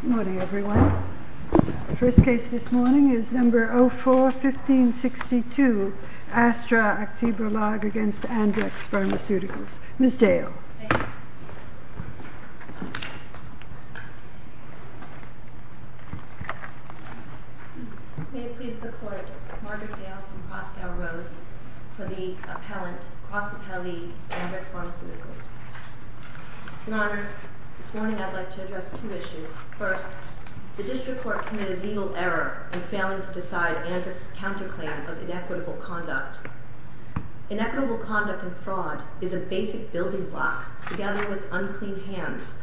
Good morning everyone. The first case this morning is No. 04-1562, Astra Aktiebolag v. Andrx Pharmaceuticals. Ms. Dale. Thank you. May it please the Court, Margaret Dale and Pascal Rose for the appellant, cross-appellee, Andrx Pharmaceuticals. Your Honors, this morning I'd like to address two issues. First, the District Court committed legal error in failing to decide Andrx's counterclaim of inequitable conduct. Inequitable conduct and fraud is a basic building block, together with unclean hands,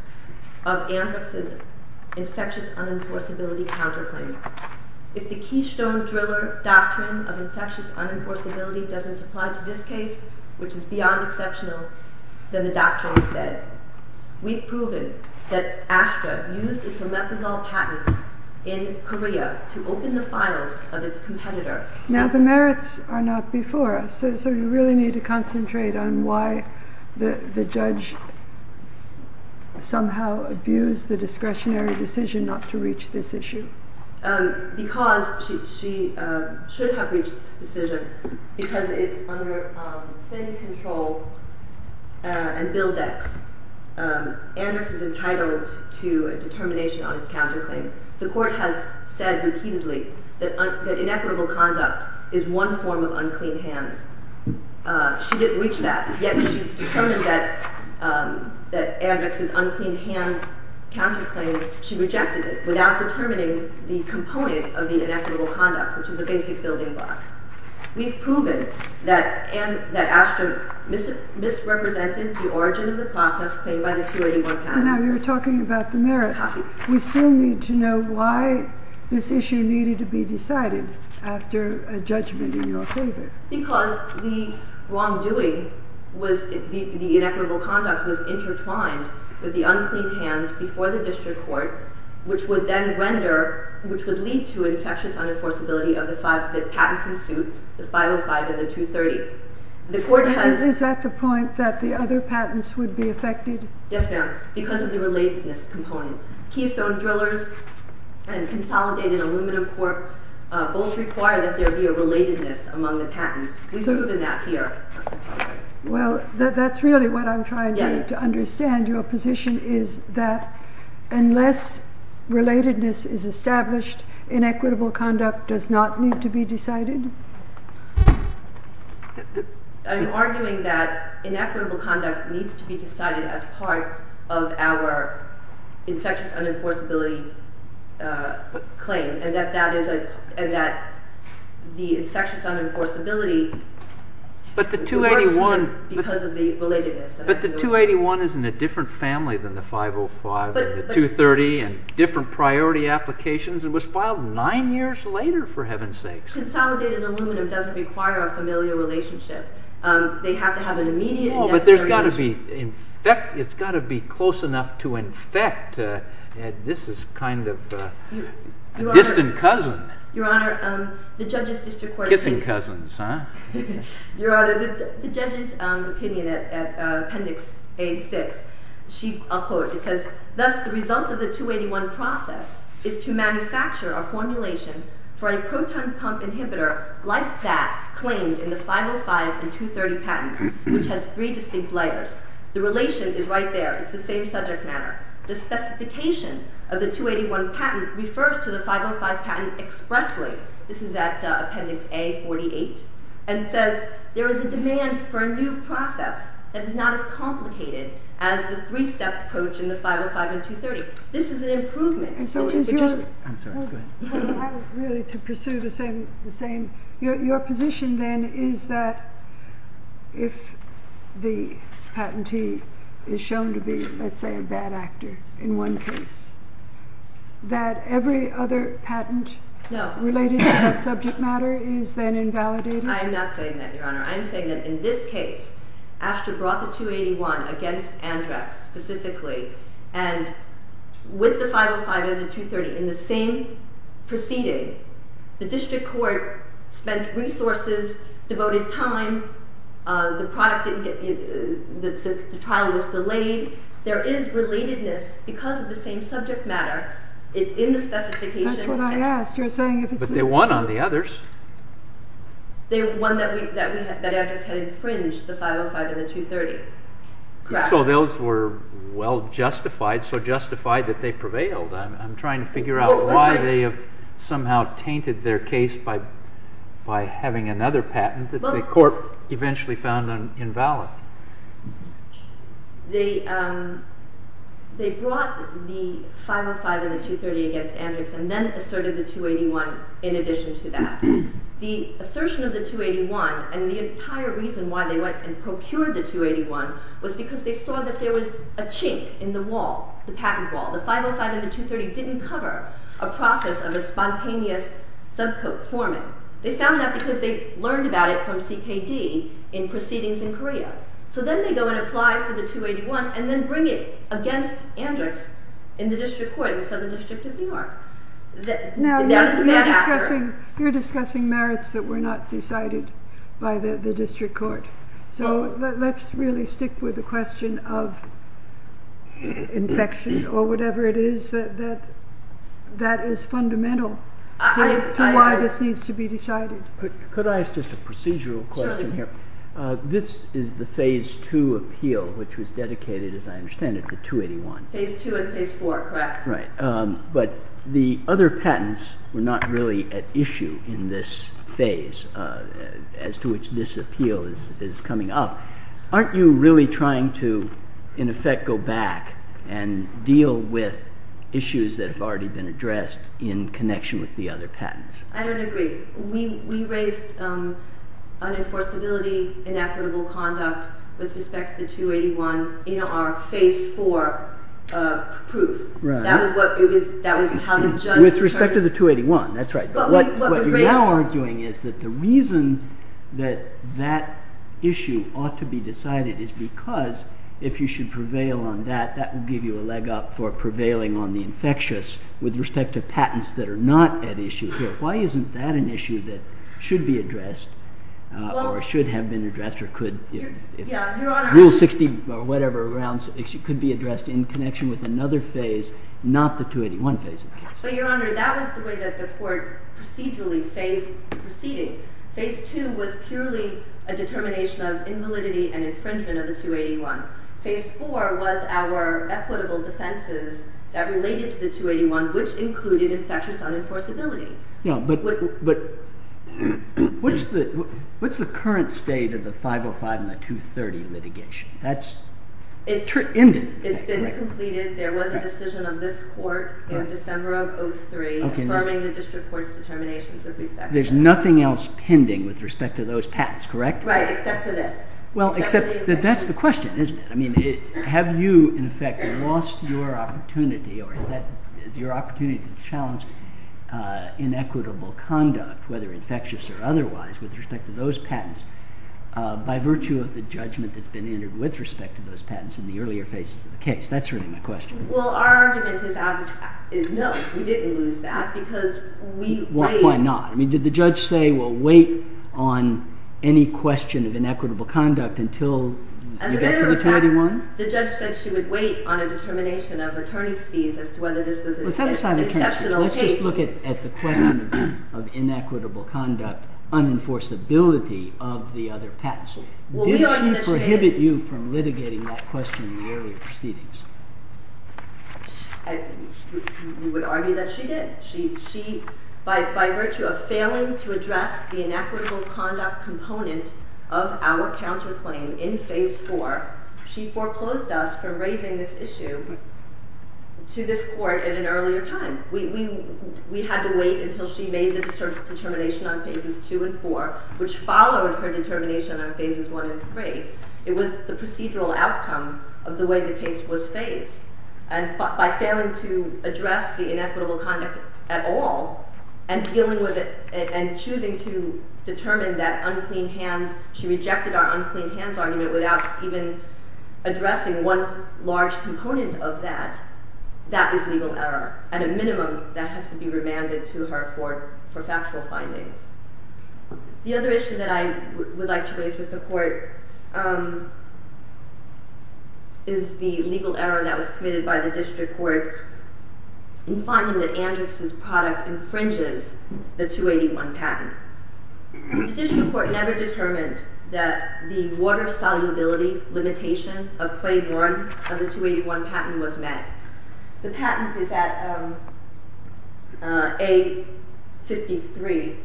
of Andrx's infectious unenforceability counterclaim. If the keystone driller doctrine of infectious unenforceability doesn't apply to this case, which is beyond exceptional, then the doctrine is dead. We've proven that Astra used its omeprazole patents in Korea to open the files of its competitor. Now the merits are not before us, so you really need to concentrate on why the judge somehow abused the discretionary decision not to reach this issue. Because she should have reached this decision, because under thin control and Bildex, Andrx is entitled to a determination on its counterclaim. The Court has said repeatedly that inequitable conduct is one form of unclean hands. She didn't reach that, yet she determined that Andrx's unclean hands counterclaim, she was not determining the component of the inequitable conduct, which is a basic building block. We've proven that Astra misrepresented the origin of the process claimed by the 281 patent. Now you're talking about the merits. We still need to know why this issue needed to be decided after a judgment in your favor. Because the wrongdoing, the inequitable conduct was intertwined with the unclean hands before the district court, which would then render, which would lead to infectious unenforceability of the patents in suit, the 505 and the 230. Is that the point, that the other patents would be affected? Yes ma'am, because of the relatedness component. Keystone Drillers and Consolidated Aluminum Corp both require that there be a relatedness among the patents. We've proven that here. Well, that's really what I'm trying to understand. Your position is that unless relatedness is established, inequitable conduct does not need to be decided? I'm arguing that inequitable conduct needs to be decided as part of our infectious unenforceability claim, and that the infectious unenforceability... But the 281... ...works here because of the relatedness. But the 281 is in a different family than the 505 and the 230 and different priority applications. It was filed nine years later, for heaven's sakes. Consolidated Aluminum doesn't require a familial relationship. They have to have an immediate and necessary... No, but there's got to be, in fact, it's got to be close enough to infect. This is kind of a distant cousin. Your Honor, the judges district court... Distant cousins, huh? Your Honor, the judge's opinion at Appendix A6, she... I'll quote. It says, thus, the result of the 281 process is to manufacture a formulation for a proton pump inhibitor like that claimed in the 505 and 230 patents, which has three distinct layers. The relation is right there. It's the same subject matter. The specification of the 281 patent refers to the 505 patent expressly. This is at Appendix A48, and it says, there is a demand for a new process that is not as complicated as the three-step approach in the 505 and 230. This is an improvement, which is... I'm sorry, go ahead. Really, to pursue the same... Your position, then, is that if the patentee is shown to be, let's say, a bad actor in one case, that every other patent related to that subject matter is then invalidated? I'm not saying that, Your Honor. I'm saying that in this case, ASTRA brought the 281 against Andrax, specifically, and with the 505 and the 230, in the same proceeding, the district court spent resources, devoted time, the trial was delayed. There is relatedness because of the same subject matter. It's in the specification. That's what I asked. You're saying... But they won on the others. They won that Andrax had infringed the 505 and the 230. Correct. So those were well justified, so justified that they prevailed. I'm trying to figure out why they have somehow tainted their case by having another patent that the court eventually found invalid. They brought the 505 and the 230 against Andrax and then asserted the 281 in addition to that. The assertion of the 281 and the entire reason why they went and procured the 281 was because they saw that there was a chink in the wall, the patent wall. The 505 and the 230 didn't cover a process of a spontaneous subcourt foreman. They found that because they learned about it from CKD in proceedings in Korea. So then they go and apply for the 281 and then bring it against Andrax in the district court in the Southern District of New York. Now you're discussing merits that were not decided by the district court. So let's really stick with the question of infection or whatever it is that is fundamental to why this needs to be decided. Could I ask just a procedural question here? Certainly. This is the phase two appeal which was dedicated, as I understand it, to 281. Phase two and phase four, correct. Right. But the other patents were not really at issue in this phase as to which this appeal is coming up. Aren't you really trying to, in effect, go back and deal with issues that have already been addressed in connection with the other patents? I don't agree. We raised unenforceability, inequitable conduct with respect to the 281 in our phase four proof. Right. That was how the judge determined it. With respect to the 281, that's right. What we're now arguing is that the reason that that issue ought to be decided is because if you should prevail on that, that would give you a leg up for prevailing on the infectious with respect to patents that are not at issue here. Why isn't that an issue that should be addressed or should have been addressed or could? Rule 60 or whatever around could be addressed in connection with another phase, not the 281 phase. Your Honor, that was the way that the court procedurally phased the proceeding. Phase two was purely a determination of invalidity and infringement of the 281. Phase four was our equitable defenses that related to the 281, which included infectious unenforceability. What's the current state of the 505 and the 230 litigation? It's been completed. There was a decision of this court in December of 2003, affirming the district court's determinations with respect to that. There's nothing else pending with respect to those patents, correct? Right, except for this. Well, except that that's the question, isn't it? I mean, have you, in effect, lost your opportunity or had your opportunity to challenge inequitable conduct, whether infectious or otherwise, with respect to those patents by virtue of the judgment that's been entered with respect to those patents in the earlier phases of the case? That's really my question. Well, our argument is no, we didn't lose that because we raised— Why not? I mean, did the judge say, well, wait on any question of inequitable conduct until— As a matter of fact, the judge said she would wait on a determination of attorney's fees as to whether this was an exceptional case. Let's just look at the question of inequitable conduct, unenforceability of the other patents. Did she prohibit you from litigating that question in the earlier proceedings? We would argue that she did. By virtue of failing to address the inequitable conduct component of our counterclaim in Phase 4, she foreclosed us from raising this issue to this Court at an earlier time. We had to wait until she made the determination on Phases 2 and 4, which followed her determination on Phases 1 and 3. It was the procedural outcome of the way the case was phased. And by failing to address the inequitable conduct at all and dealing with it and choosing to determine that unclean hands— She rejected our unclean hands argument without even addressing one large component of that. That is legal error, and a minimum that has to be remanded to her for factual findings. The other issue that I would like to raise with the Court is the legal error that was committed by the District Court in finding that Andrix's product infringes the 281 patent. The District Court never determined that the water solubility limitation of Claim 1 of the 281 patent was met. The patent is at A53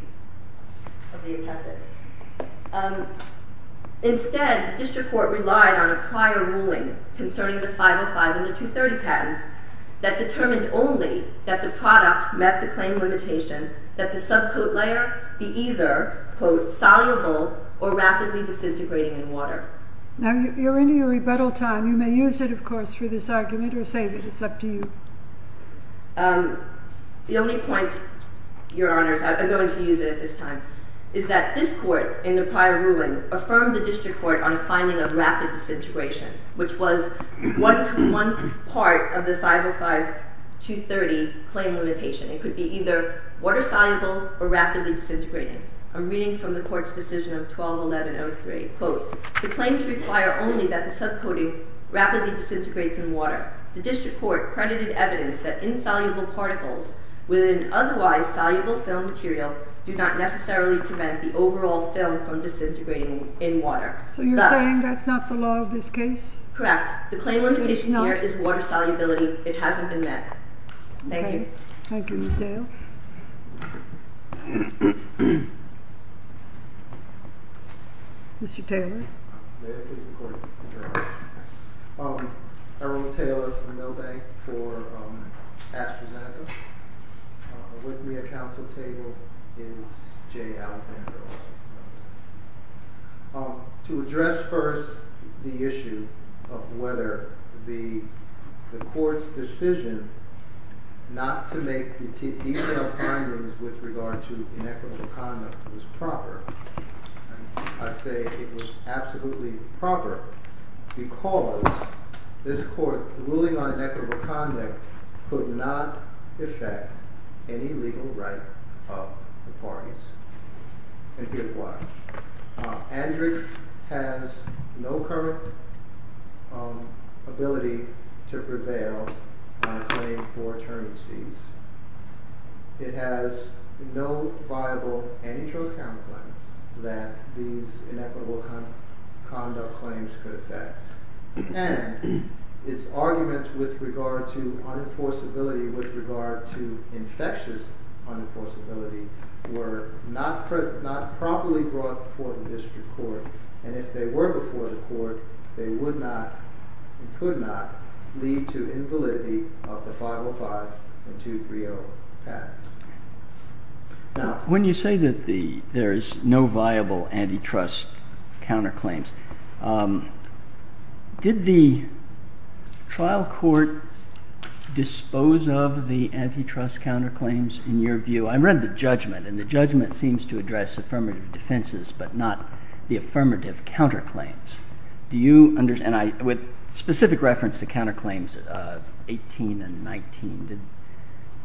of the appendix. Instead, the District Court relied on a prior ruling concerning the 505 and the 230 patents that determined only that the product met the claim limitation, that the subcoat layer be either, quote, soluble or rapidly disintegrating in water. Now, you're in your rebuttal time. You may use it, of course, for this argument or say that it's up to you. The only point, Your Honors—I'm going to use it at this time— is that this Court, in the prior ruling, affirmed the District Court on a finding of rapid disintegration, which was one part of the 505-230 claim limitation. It could be either water-soluble or rapidly disintegrating. I'm reading from the Court's decision of 12-1103. Quote, the claims require only that the subcoating rapidly disintegrates in water. The District Court credited evidence that insoluble particles with an otherwise soluble film material do not necessarily prevent the overall film from disintegrating in water. So you're saying that's not the law of this case? Correct. The claim limitation here is water solubility. It hasn't been met. Thank you. Thank you, Ms. Dale. Mr. Taylor? May it please the Court, Your Honors. Errol Taylor from Milbank for AstraZeneca. With me at council table is Jay Alexander, also from Milbank. To address first the issue of whether the Court's decision not to make detailed findings with regard to inequitable conduct was proper, I say it was absolutely proper because this Court ruling on inequitable conduct could not affect any legal right of the parties. And here's why. Andrix has no current ability to prevail on a claim for attorneys fees. It has no viable antitrust counterclaims that these inequitable conduct claims could affect. And its arguments with regard to unenforceability, with regard to infectious unenforceability were not properly brought before the District Court. And if they were before the Court, they would not and could not lead to invalidity of the 505 and 230 patents. When you say that there's no viable antitrust counterclaims, did the trial court dispose of the antitrust counterclaims in your view? I read the judgment, and the judgment seems to address affirmative defenses but not the affirmative counterclaims. Do you understand? With specific reference to counterclaims of 18 and 19,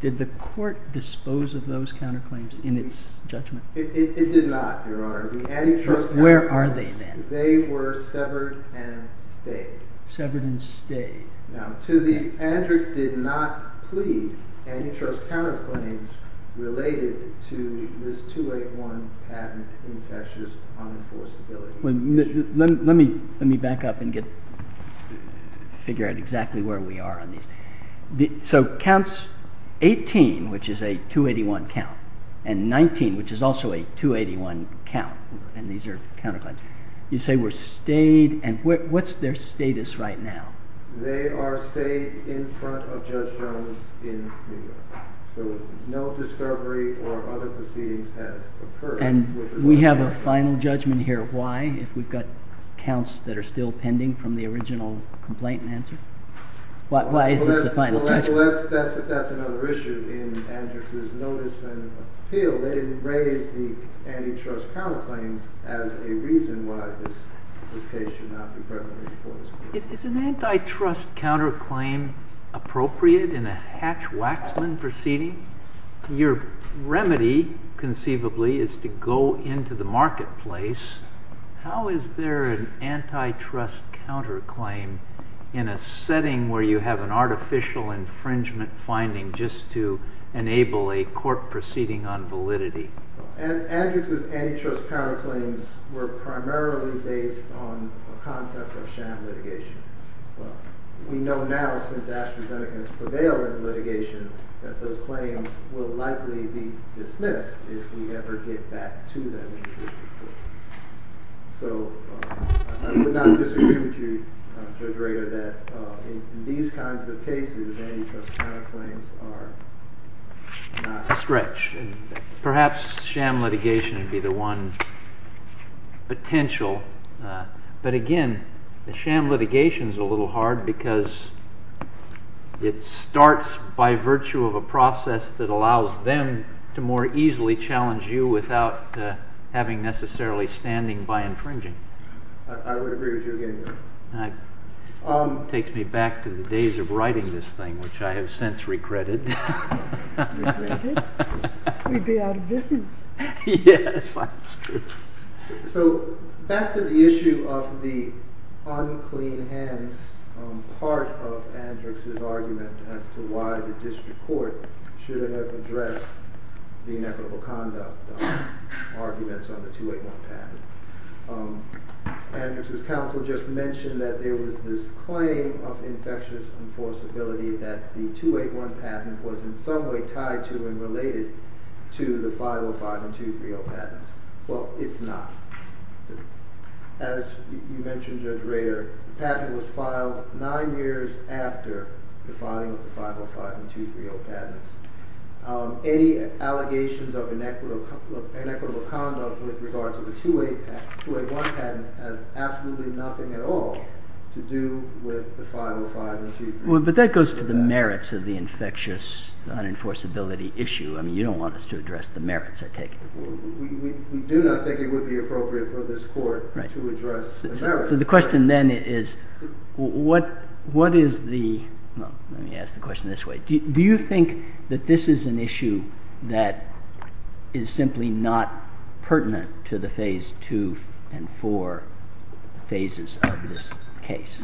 did the court dispose of those counterclaims in its judgment? It did not, Your Honor. Where are they then? They were severed and stayed. Severed and stayed. Now, to the antitrust did not plead antitrust counterclaims related to this 281 patent infectious unenforceability. Let me back up and figure out exactly where we are on these. So counts 18, which is a 281 count, and 19, which is also a 281 count, and these are counterclaims, you say were stayed, and what's their status right now? They are stayed in front of Judge Jones in New York. So no discovery or other proceedings has occurred. And we have a final judgment here. Why, if we've got counts that are still pending from the original complaint and answer? Why is this a final judgment? Well, that's another issue in Andrick's notice and appeal. They didn't raise the antitrust counterclaims as a reason why this case should not be presented before this court. Is an antitrust counterclaim appropriate in a Hatch-Waxman proceeding? Your remedy, conceivably, is to go into the marketplace. How is there an antitrust counterclaim in a setting where you have an artificial infringement finding just to enable a court proceeding on validity? Andrick's antitrust counterclaims were primarily based on a concept of sham litigation. We know now, since AstraZeneca has prevailed in litigation, that those claims will likely be dismissed if we ever get back to them in the district court. So I would not disagree with you, Judge Rader, that in these kinds of cases, antitrust counterclaims are not a stretch. Perhaps sham litigation would be the one potential. But again, the sham litigation is a little hard because it starts by virtue of a process that allows them to more easily challenge you without having necessarily standing by infringing. I would agree with you again. Takes me back to the days of writing this thing, which I have since regretted. We'd be out of business. Yes. So back to the issue of the unclean hands part of Andrick's argument as to why the district court should have addressed the inequitable conduct arguments on the 281 patent. Andrick's counsel just mentioned that there was this claim of infectious enforceability that the 281 patent was in some way tied to and related to the 505 and 230 patents. Well, it's not. As you mentioned, Judge Rader, the patent was filed nine years after the filing of the 505 and 230 patents. Any allegations of inequitable conduct with regard to the 281 patent has absolutely nothing at all to do with the 505 and 230 patents. But that goes to the merits of the infectious unenforceability issue. I mean, you don't want us to address the merits, I take it. We do not think it would be appropriate for this court to address the merits. So the question then is, do you think that this is an issue that is simply not pertinent to the phase two and four phases of this case?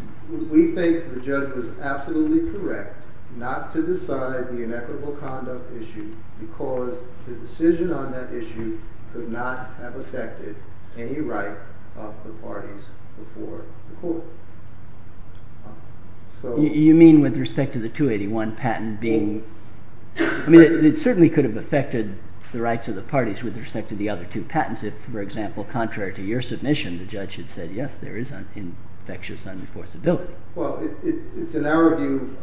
We think the judge was absolutely correct not to decide the inequitable conduct issue because the decision on that issue could not have affected any right of the parties before the court. You mean with respect to the 281 patent being... I mean, it certainly could have affected the rights of the parties with respect to the other two patents if, for example, contrary to your submission, the judge had said yes, there is infectious unenforceability. Well, it's in our view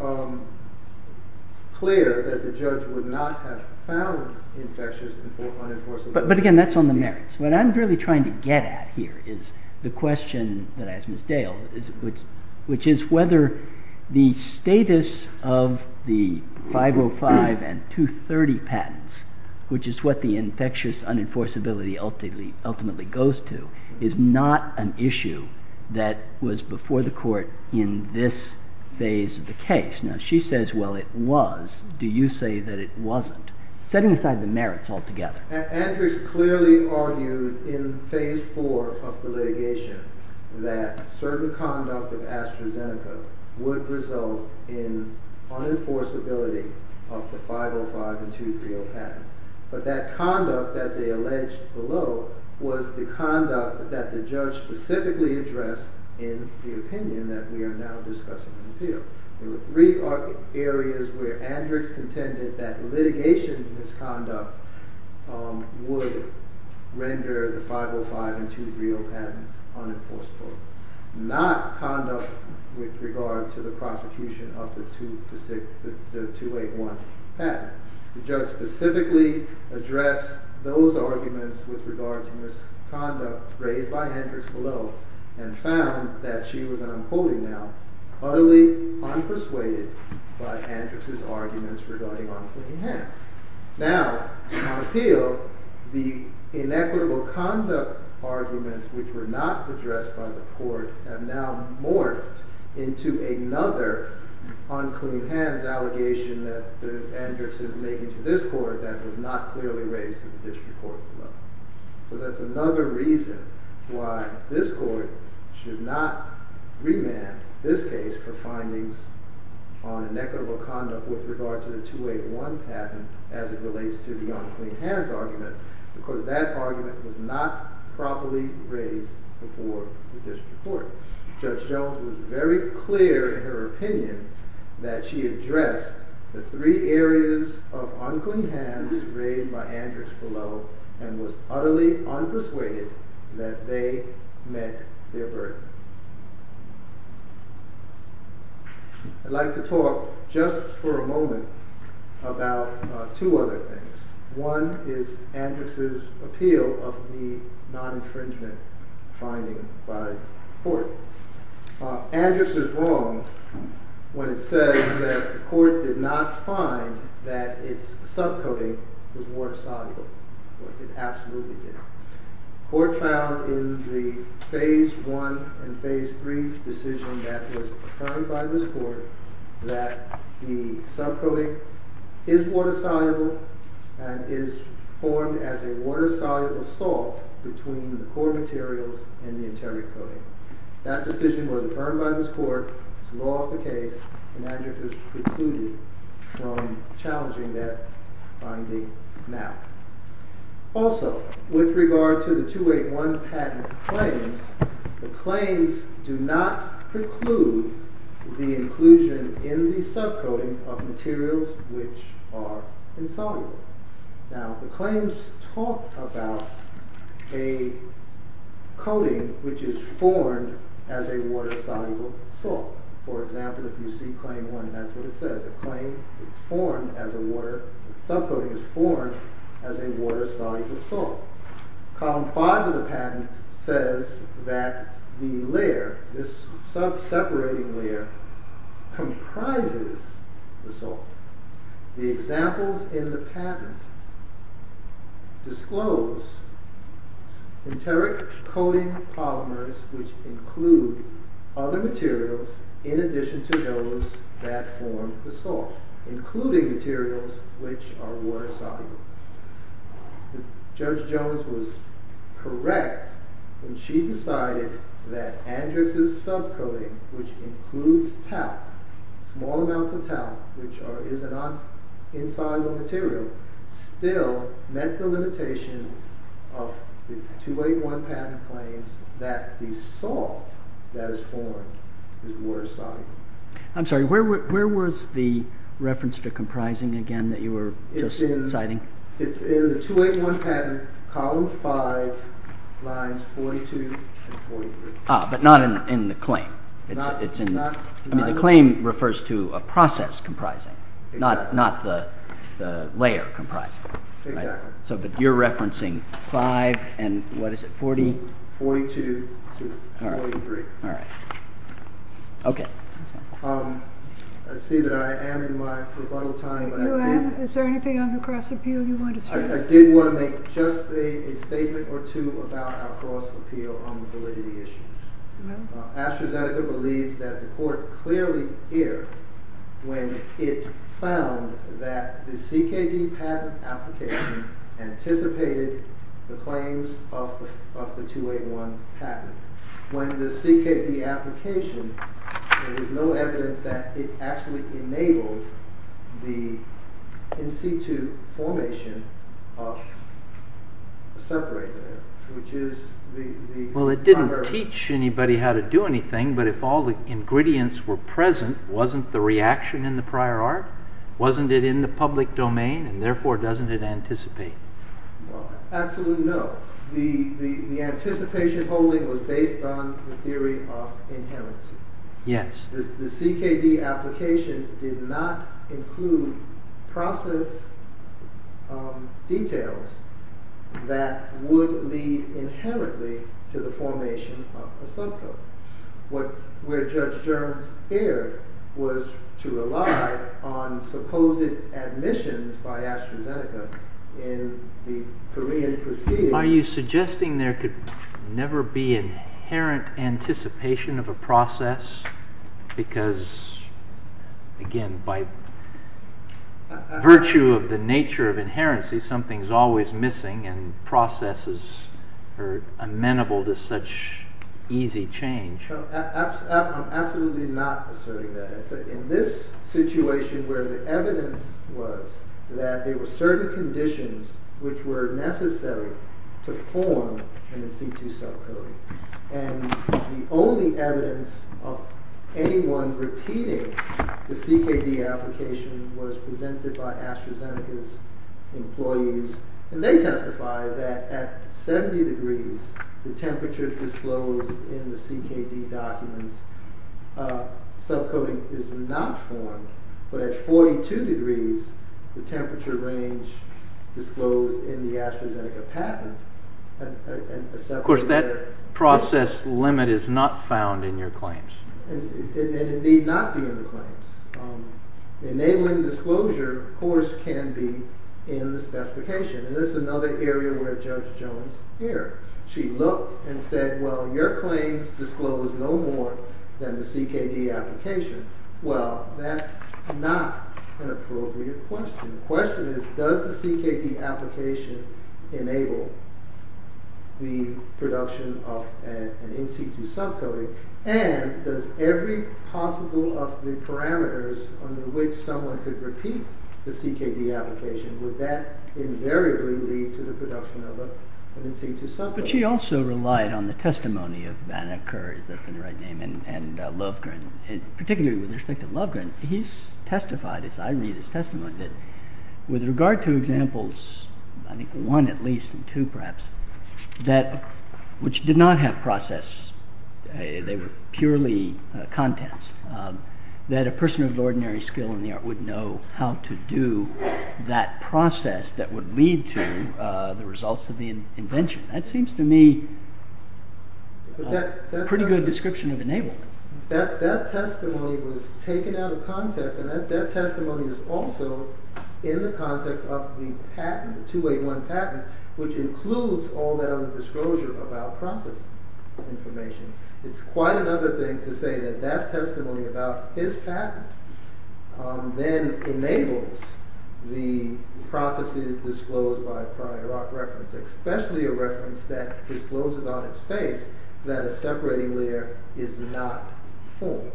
clear that the judge would not have found infectious unenforceability. But again, that's on the merits. What I'm really trying to get at here is the question that I asked Ms. Dale, which is whether the status of the 505 and 230 patents, which is what the infectious unenforceability ultimately goes to, is not an issue that was before the court in this phase of the case. Now, she says, well, it was. Do you say that it wasn't? Setting aside the merits altogether. Andrix clearly argued in phase four of the litigation that certain conduct of AstraZeneca would result in unenforceability of the 505 and 230 patents. But that conduct that they alleged below was the conduct that the judge specifically addressed in the opinion that we are now discussing in the appeal. There were three areas where Andrix contended that litigation misconduct would render the 505 and 230 patents unenforceable, not conduct with regard to the prosecution of the 281 patent. The judge specifically addressed those arguments with regard to misconduct raised by Andrix below and found that she was, and I'm quoting now, utterly unpersuaded by Andrix's arguments regarding unclean hands. Now, on appeal, the inequitable conduct arguments which were not addressed by the court have now morphed into another unclean hands allegation that Andrix is making to this court that was not clearly raised in the district court. So that's another reason why this court should not remand this case for findings on inequitable conduct with regard to the 281 patent as it relates to the unclean hands argument because that argument was not properly raised before the district court. Judge Jones was very clear in her opinion that she addressed the three areas of unclean hands raised by Andrix below and was utterly unpersuaded that they met their burden. I'd like to talk just for a moment about two other things. One is Andrix's appeal of the non-infringement finding by court. Andrix is wrong when it says that the court did not find that its sub-coating was water soluble. The court found in the phase one and phase three decision that was affirmed by this court that the sub-coating is water soluble and is formed as a water soluble salt between the core materials and the interior coating. That decision was affirmed by this court, it's law of the case, and Andrix was precluded from challenging that finding now. Also, with regard to the 281 patent claims, the claims do not preclude the inclusion in the sub-coating of materials which are insoluble. Now, the claims talk about a coating which is formed as a water soluble salt. For example, if you see claim one, that's what it says. A claim is formed as a water, sub-coating is formed as a water soluble salt. Column five of the patent says that the layer, this sub-separating layer, comprises the salt. The examples in the patent disclose enteric coating polymers which include other materials in addition to those that form the salt, including materials which are water soluble. Judge Jones was correct when she decided that Andrix's sub-coating, which includes talc, small amounts of talc, which is an insoluble material, still met the limitation of the 281 patent claims that the salt that is formed is water soluble. I'm sorry, where was the reference to comprising again that you were just citing? It's in the 281 patent, column five, lines 42 and 43. Ah, but not in the claim. I mean, the claim refers to a process comprising, not the layer comprising. Exactly. So, but you're referencing five and, what is it, 40? 42, 43. I see that I am in my rebuttal time, but I did want to make just a statement or two about our cross-appeal on the validity issues. AstraZeneca believes that the court clearly erred when it found that the CKD patent application anticipated the claims of the 281 patent. When the CKD application, there is no evidence that it actually enabled the in-situ formation of a separator, which is the… Well, it didn't teach anybody how to do anything, but if all the ingredients were present, wasn't the reaction in the prior art, wasn't it in the public domain, and therefore doesn't it anticipate? Absolutely no. The anticipation holding was based on the theory of inherency. Yes. The CKD application did not include process details that would lead inherently to the formation of a subcode. Where Judge Jones erred was to rely on supposed admissions by AstraZeneca in the Korean proceedings. Are you suggesting there could never be inherent anticipation of a process? Because, again, by virtue of the nature of inherency, something is always missing and processes are amenable to such easy change. I'm absolutely not asserting that. In this situation where the evidence was that there were certain conditions which were necessary to form an in-situ subcode, and the only evidence of anyone repeating the CKD application was presented by AstraZeneca's employees, and they testified that at 70 degrees, the temperature disclosed in the CKD documents, subcoding is not formed, but at 42 degrees, the temperature range disclosed in the AstraZeneca patent… Of course, that process limit is not found in your claims. And it need not be in the claims. Enabling disclosure, of course, can be in the specification. And this is another area where Judge Jones erred. She looked and said, well, your claims disclose no more than the CKD application. Well, that's not an appropriate question. The question is, does the CKD application enable the production of an in-situ subcoding? And does every possible of the parameters under which someone could repeat the CKD application, would that invariably lead to the production of an in-situ subcoding? But she also relied on the testimony of Vanna Kerr, is that the right name? Particularly with respect to Lovgren, he's testified, as I read his testimony, that with regard to examples, I think one at least and two perhaps, which did not have process, they were purely contents, that a person of ordinary skill in the art would know how to do that process that would lead to the results of the invention. That seems to me a pretty good description of enablement. That testimony was taken out of context, and that testimony is also in the context of the patent, the 281 patent, which includes all that other disclosure about process information. It's quite another thing to say that that testimony about his patent then enables the processes disclosed by prior art reference, especially a reference that discloses on its face that a separating layer is not formed.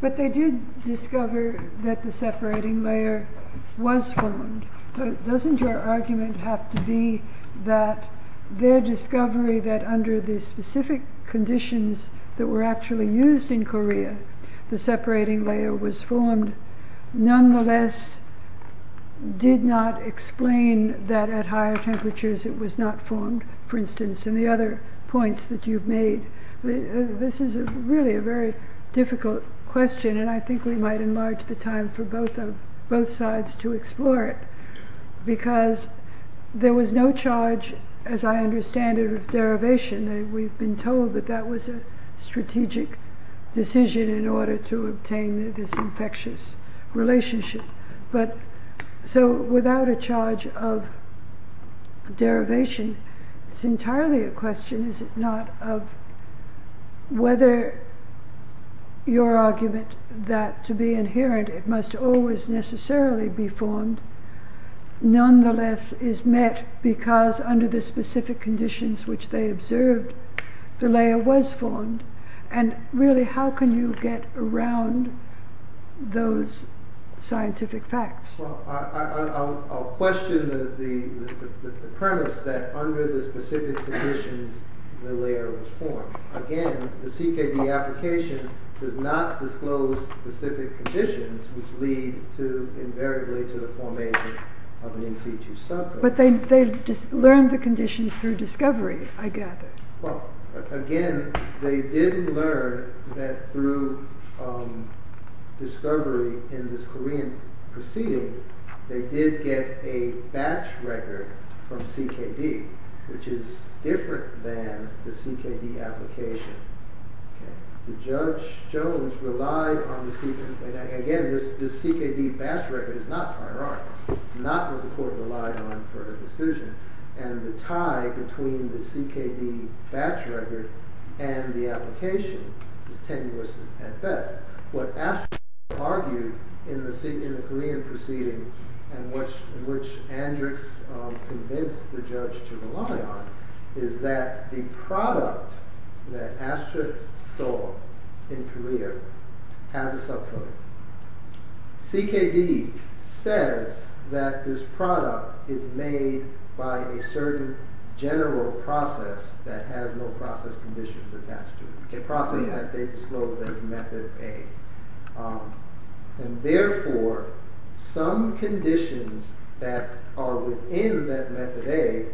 But they did discover that the separating layer was formed. Doesn't your argument have to be that their discovery that under the specific conditions that were actually used in Korea, the separating layer was formed, nonetheless, did not explain that at higher temperatures, it was not formed, for instance, and the other points that you've made. This is really a very difficult question, and I think we might enlarge the time for both sides to explore it. Because there was no charge, as I understand it, of derivation. We've been told that that was a strategic decision in order to obtain this infectious relationship. So without a charge of derivation, it's entirely a question, is it not, of whether your argument that to be inherent, it must always necessarily be formed, Well, I'll question the premise that under the specific conditions, the layer was formed. Again, the CKD application does not disclose specific conditions which lead to, invariably, to the formation of an NC2 subcode. But they learned the conditions through discovery, I gather. Well, again, they did learn that through discovery in this Korean proceeding, they did get a batch record from CKD, which is different than the CKD application. The judge, Jones, relied on the CKD, and again, this CKD batch record is not prior art. It's not what the court relied on for a decision, and the tie between the CKD batch record and the application is tenuous at best. What Astrid argued in the Korean proceeding, and which Andrix convinced the judge to rely on, is that the product that Astrid saw in Korea has a subcode. CKD says that this product is made by a certain general process that has no process conditions attached to it. A process that they disclosed as method A. And therefore, some conditions that are within that method A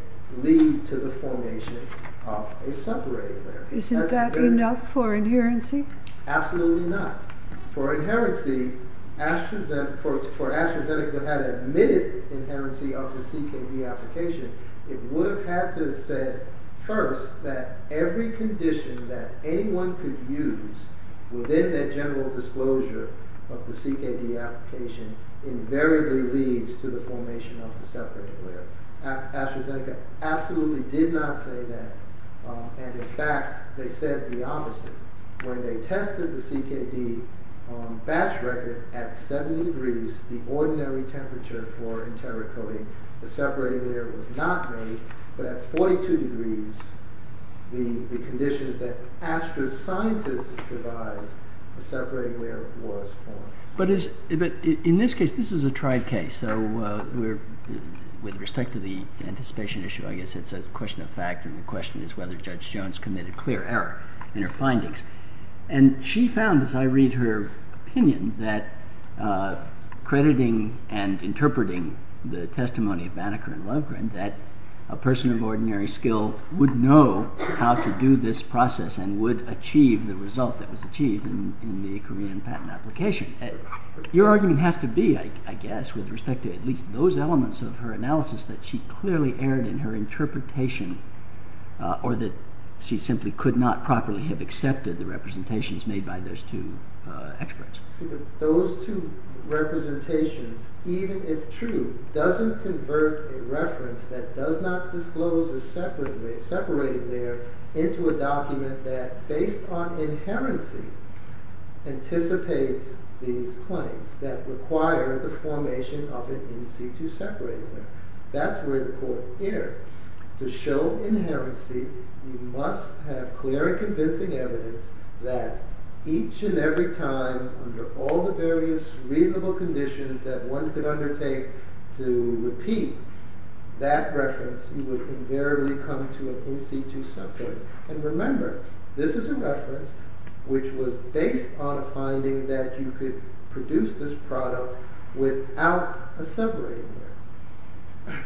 lead to the formation of a separate layer. Isn't that enough for inherency? Absolutely not. For inherency, for AstraZeneca to have admitted inherency of the CKD application, it would have had to have said first that every condition that anyone could use within that general disclosure of the CKD application invariably leads to the formation of a separate layer. AstraZeneca absolutely did not say that, and in fact, they said the opposite. When they tested the CKD batch record at 70 degrees, the ordinary temperature for enterocoding, the separating layer was not made, but at 42 degrees, the conditions that Astra's scientists devised, the separating layer was formed. But in this case, this is a tried case, so with respect to the anticipation issue, I guess it's a question of fact, and the question is whether Judge Jones committed clear error in her findings. And she found, as I read her opinion, that crediting and interpreting the testimony of Banneker and Lovgren, that a person of ordinary skill would know how to do this process and would achieve the result that was achieved in the Korean patent application. Your argument has to be, I guess, with respect to at least those elements of her analysis, that she clearly erred in her interpretation, or that she simply could not properly have accepted the representations made by those two experts. Those two representations, even if true, doesn't convert a reference that does not disclose a separating layer into a document that, based on inherency, anticipates these claims that require the formation of an in-situ separating layer. That's where the court erred. To show inherency, you must have clear and convincing evidence that each and every time, under all the various reasonable conditions that one could undertake to repeat that reference, you would invariably come to an in-situ separating layer. And remember, this is a reference which was based on a finding that you could produce this product without a separating layer.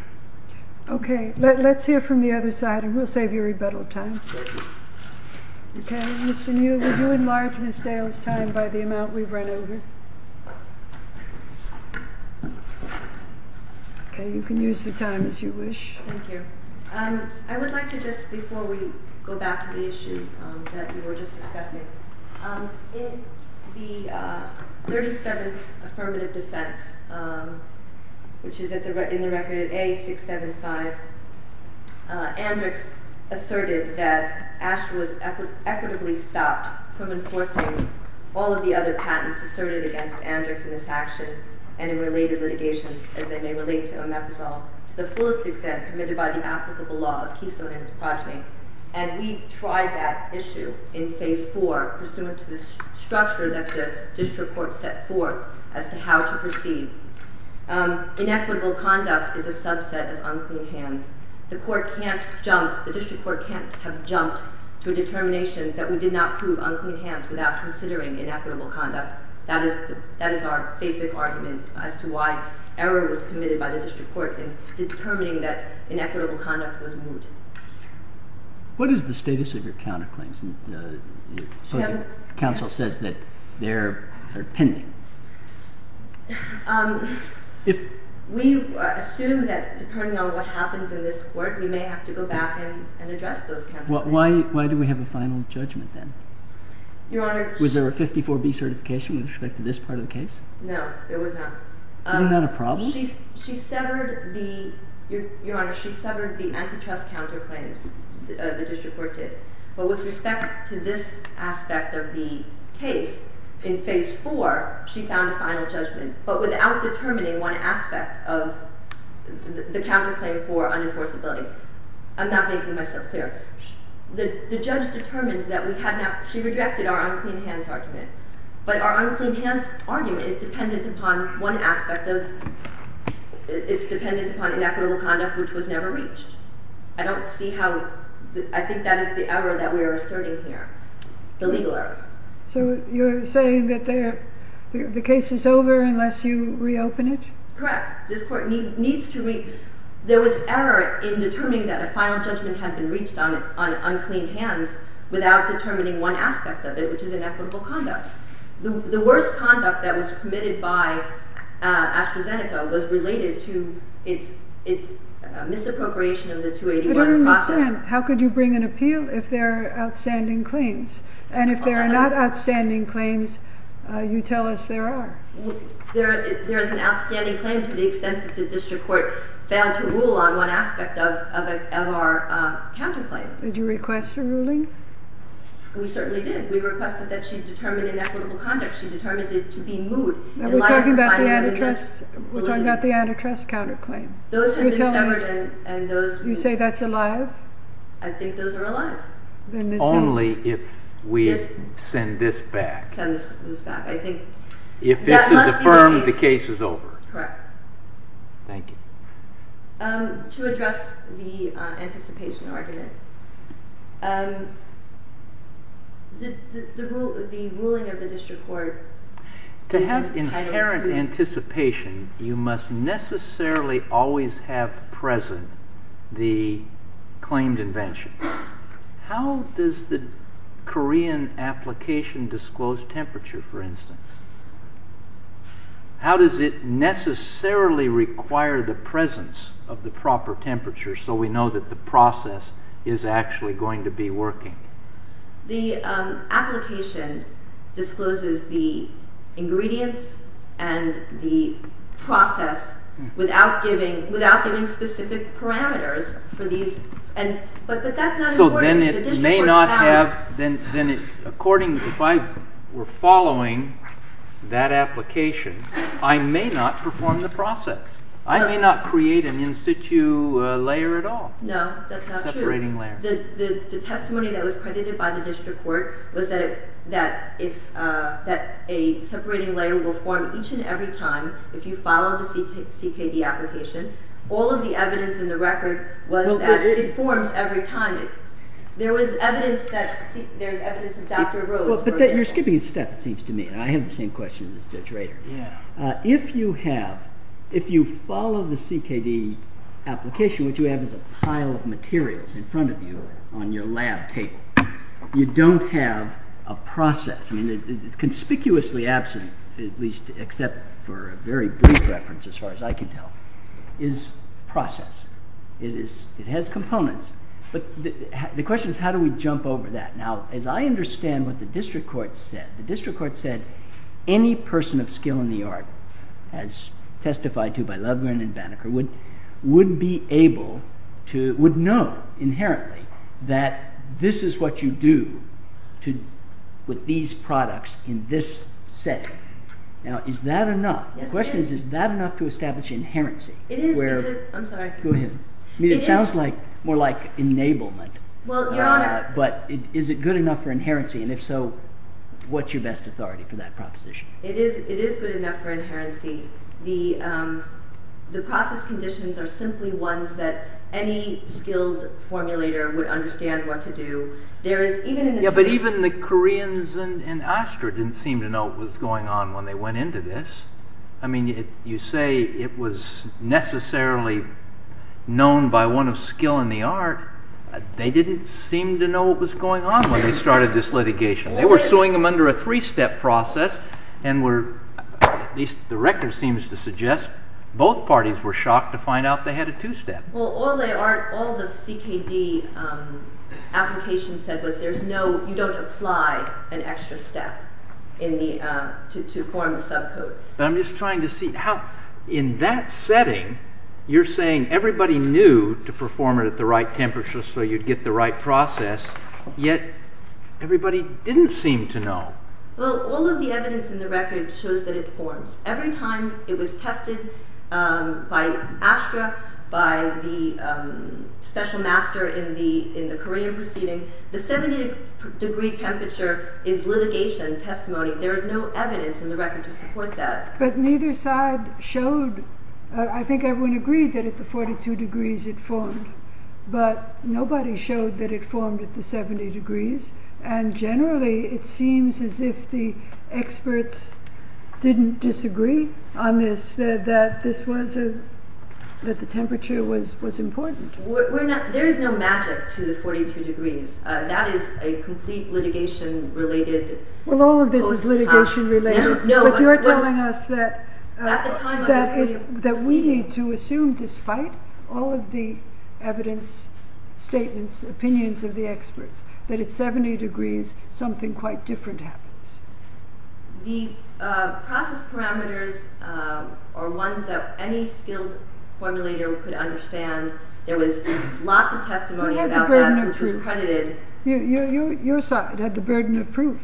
Okay, let's hear from the other side, and we'll save you rebuttal time. Okay, Mr. Neal, would you enlarge Ms. Dale's time by the amount we've run over? Okay, you can use the time as you wish. Thank you. I would like to just, before we go back to the issue that we were just discussing, in the 37th affirmative defense, which is in the record at A675, Andrix asserted that Asch was equitably stopped from enforcing all of the other patents asserted against Andrix in this action and in related litigations, as they may relate to Omeprazole, to the fullest extent permitted by the applicable law of Keystone and its progeny. And we tried that issue in Phase 4, pursuant to the structure that the district court set forth as to how to proceed. Inequitable conduct is a subset of unclean hands. The court can't jump, the district court can't have jumped to a determination that we did not prove unclean hands without considering inequitable conduct. That is our basic argument as to why error was committed by the district court in determining that inequitable conduct was moot. What is the status of your counterclaims? The counsel says that they're pending. We assume that, depending on what happens in this court, we may have to go back and address those counterclaims. Why do we have a final judgment then? Was there a 54B certification with respect to this part of the case? No, there was not. Isn't that a problem? Your Honor, she severed the antitrust counterclaims the district court did. But with respect to this aspect of the case, in Phase 4, she found a final judgment, but without determining one aspect of the counterclaim for unenforceability. I'm not making myself clear. The judge determined that we had not, she rejected our unclean hands argument. But our unclean hands argument is dependent upon one aspect of, it's dependent upon inequitable conduct which was never reached. I don't see how, I think that is the error that we are asserting here, the legal error. So you're saying that the case is over unless you reopen it? Correct. This court needs to, there was error in determining that a final judgment had been reached on unclean hands without determining one aspect of it, which is inequitable conduct. The worst conduct that was committed by AstraZeneca was related to its misappropriation of the 281 process. I don't understand. How could you bring an appeal if there are outstanding claims? And if there are not outstanding claims, you tell us there are. There is an outstanding claim to the extent that the district court failed to rule on one aspect of our counterclaim. Did you request a ruling? We certainly did. We requested that she determine inequitable conduct. She determined it to be moot. We're talking about the antitrust counterclaim. Those have been severed and those You say that's alive? I think those are alive. Only if we send this back. Send this back. I think If this is affirmed, the case is over. Correct. Thank you. To address the anticipation argument, the ruling of the district court To have inherent anticipation, you must necessarily always have present the claimed invention. How does the Korean application disclose temperature, for instance? How does it necessarily require the presence of the proper temperature so we know that the process is actually going to be working? The application discloses the ingredients and the process without giving specific parameters. But that's not important. According to if I were following that application, I may not perform the process. I may not create an in situ layer at all. No, that's not true. Separating layer. The testimony that was credited by the district court was that a separating layer will form each and every time if you follow the CKD application. All of the evidence in the record was that it forms every time. There was evidence of Dr. Rhodes. You're skipping a step, it seems to me. I have the same question as Judge Rader. If you follow the CKD application, what you have is a pile of materials in front of you on your lab table. You don't have a process. It's conspicuously absent, at least except for a very brief reference as far as I can tell, is process. It has components. The question is how do we jump over that? Now, as I understand what the district court said, the district court said any person of skill in the art, as testified to by Lovgren and Banneker, would know inherently that this is what you do with these products in this setting. Now, is that enough? The question is, is that enough to establish inherency? It is. I'm sorry. Go ahead. It sounds more like enablement. Is it good enough for inherency? If so, what's your best authority for that proposition? It is good enough for inherency. The process conditions are simply ones that any skilled formulator would understand what to do. Even the Koreans in Astor didn't seem to know what was going on when they went into this. I mean, you say it was necessarily known by one of skill in the art. They didn't seem to know what was going on when they started this litigation. They were suing them under a three-step process, and the record seems to suggest both parties were shocked to find out they had a two-step. Well, all the CKD application said was you don't apply an extra step to form the subcode. I'm just trying to see how, in that setting, you're saying everybody knew to perform it at the right temperature so you'd get the right process, yet everybody didn't seem to know. Well, all of the evidence in the record shows that it forms. Every time it was tested by Astor, by the special master in the Korean proceeding, the 70 degree temperature is litigation testimony. There is no evidence in the record to support that. But neither side showed, I think everyone agreed that at the 42 degrees it formed, but nobody showed that it formed at the 70 degrees. Generally, it seems as if the experts didn't disagree on this, that the temperature was important. There is no magic to the 43 degrees. That is a complete litigation-related post-fact. Well, all of this is litigation-related, but you're telling us that we need to assume, despite all of the evidence, statements, opinions of the experts, that at 70 degrees something quite different happens. The process parameters are ones that any skilled formulator could understand. There was lots of testimony about that which was credited. Your side had the burden of proof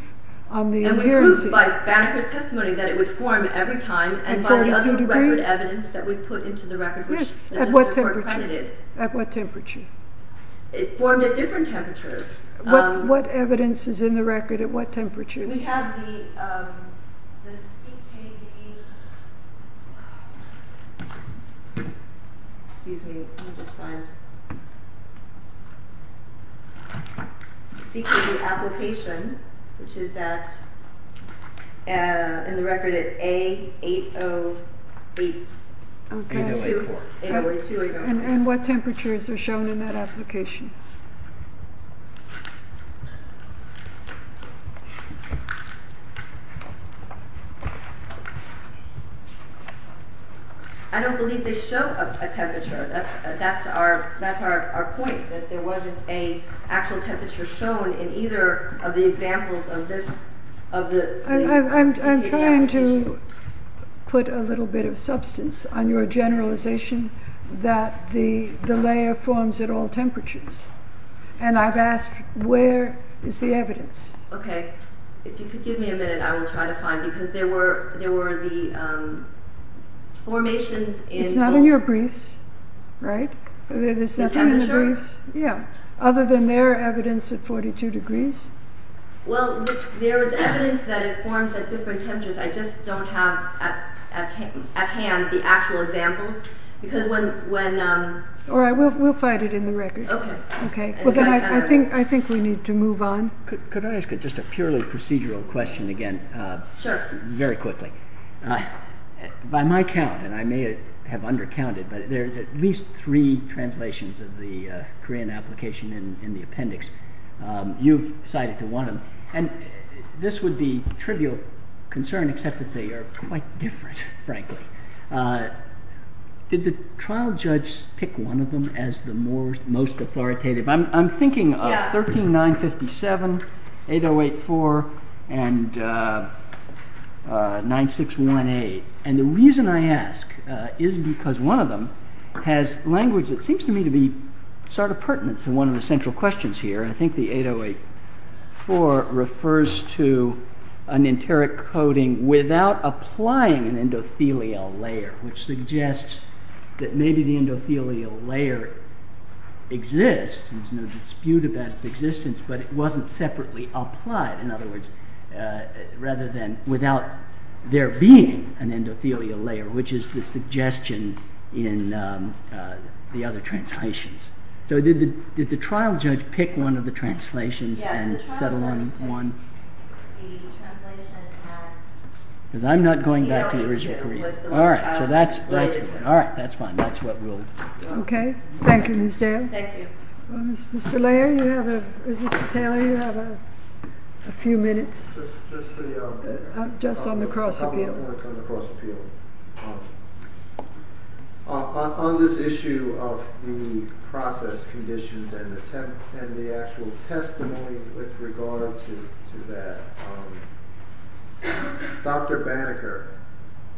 on the adherency. And we proved by Banneker's testimony that it would form every time and by the other record evidence that we put into the record. Yes, at what temperature? It formed at different temperatures. What evidence is in the record at what temperatures? We have the CKD application, which is in the record at A808. And what temperatures are shown in that application? I don't believe they show a temperature. That's our point, that there wasn't an actual temperature shown in either of the examples of this application. I'm trying to put a little bit of substance on your generalization that the layer forms at all temperatures. And I've asked, where is the evidence? If you could give me a minute, I will try to find it. It's not in your briefs, right? Other than their evidence at 42 degrees? Well, there is evidence that it forms at different temperatures. I just don't have at hand the actual examples. All right, we'll find it in the record. I think we need to move on. Could I ask just a purely procedural question again? Sure. Very quickly. By my count, and I may have undercounted, but there's at least three translations of the Korean application in the appendix. You've cited the one. And this would be trivial concern, except that they are quite different, frankly. Did the trial judge pick one of them as the most authoritative? I'm thinking of 13957, 8084, and 9618. And the reason I ask is because one of them has language that seems to me to be sort of pertinent to one of the central questions here. I think the 8084 refers to an enteric coding without applying an endothelial layer, which suggests that maybe the endothelial layer exists, there's no dispute about its existence, but it wasn't separately applied, in other words, rather than without there being an endothelial layer, which is the suggestion in the other translations. So did the trial judge pick one of the translations and settle on one? Yes, the trial judge picked the translation and... Because I'm not going back to the original Korean. ...the original Korean was the one the trial judge laid it to. All right, that's fine. That's what we'll... Okay. Thank you, Ms. Dale. Thank you. Mr. Layer, you have a... Mr. Taylor, you have a few minutes. Just for the... Just on the cross appeal. Just a couple of minutes on the cross appeal. On this issue of the process conditions and the actual testimony with regard to that, Dr. Banneker,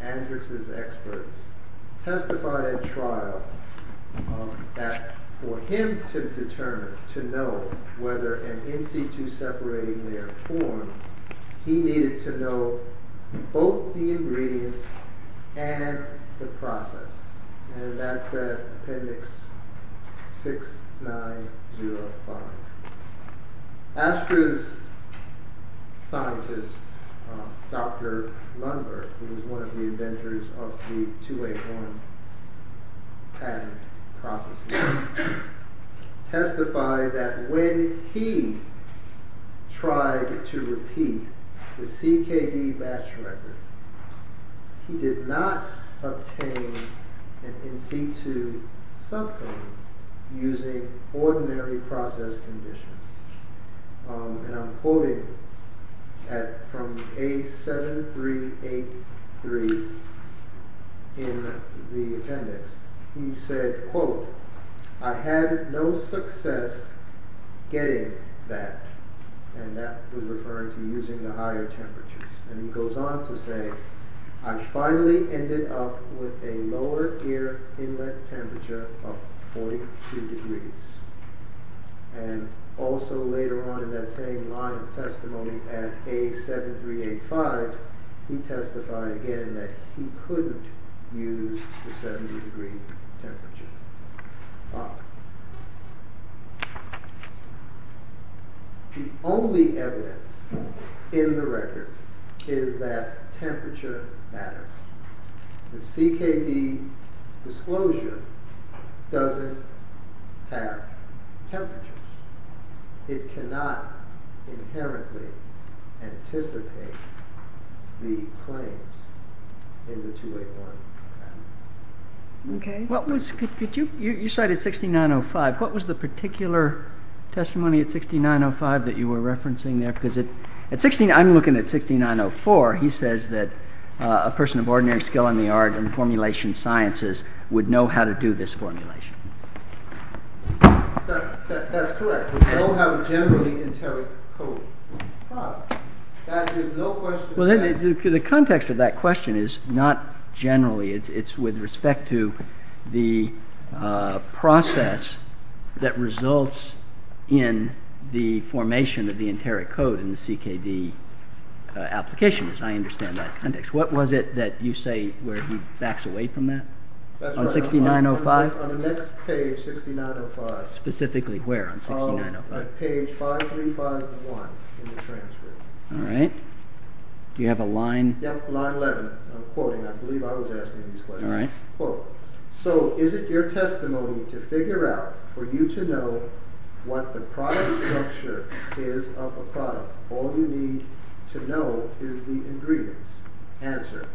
Andrex's expert, testified at trial that for him to determine, to know whether an in-situ separating layer formed, he needed to know both the ingredients and the process. And that's at appendix 6905. Ashford's scientist, Dr. Lundberg, who was one of the inventors of the two-way form patent processes, testified that when he tried to repeat the CKD batch record, he did not obtain an in-situ subcode using ordinary process conditions. And I'm quoting from A7383 in the appendix. He said, quote, I had no success getting that. And that was referring to using the higher temperatures. And he goes on to say, I finally ended up with a lower air inlet temperature of 42 degrees. And also later on in that same line of testimony at A7385, he testified again that he couldn't use the 70 degree temperature. The only evidence in the record is that temperature matters. The CKD disclosure doesn't have temperatures. It cannot inherently anticipate the claims in the two-way form patent. You cited 6905. What was the particular testimony at 6905 that you were referencing there? Because I'm looking at 6904. He says that a person of ordinary skill in the art and formulation sciences would know how to do this formulation. That's correct. We don't have a generally enteric code. That is no question. Well, the context of that question is not generally. It's with respect to the process that results in the formation of the enteric code in the CKD application, as I understand that context. What was it that you say where he backs away from that on 6905? On the next page, 6905. Specifically where on 6905? Page 5351 in the transcript. All right. Do you have a line? Yep, line 11. I'm quoting. I believe I was asking these questions. All right. Quote, so is it your testimony to figure out for you to know what the product structure is of a product? All you need to know is the ingredients. Answer.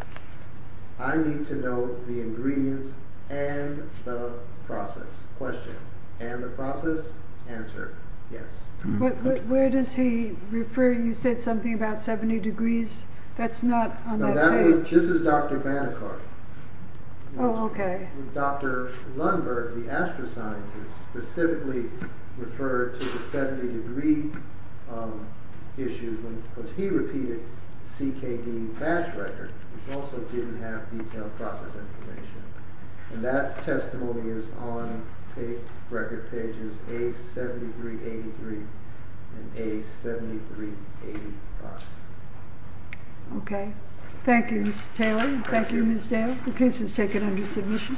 I need to know the ingredients and the process. Question. And the process? Answer. Yes. But where does he refer? You said something about 70 degrees? That's not on that page. This is Dr. Bannekart. Oh, okay. Dr. Lundberg, the astro-scientist, specifically referred to the 70 degree issues because he repeated the CKD batch record, which also didn't have detailed process information. And that testimony is on record pages A7383 and A7385. Okay. Thank you, Mr. Taylor. Thank you, Ms. Dale. The case is taken under submission.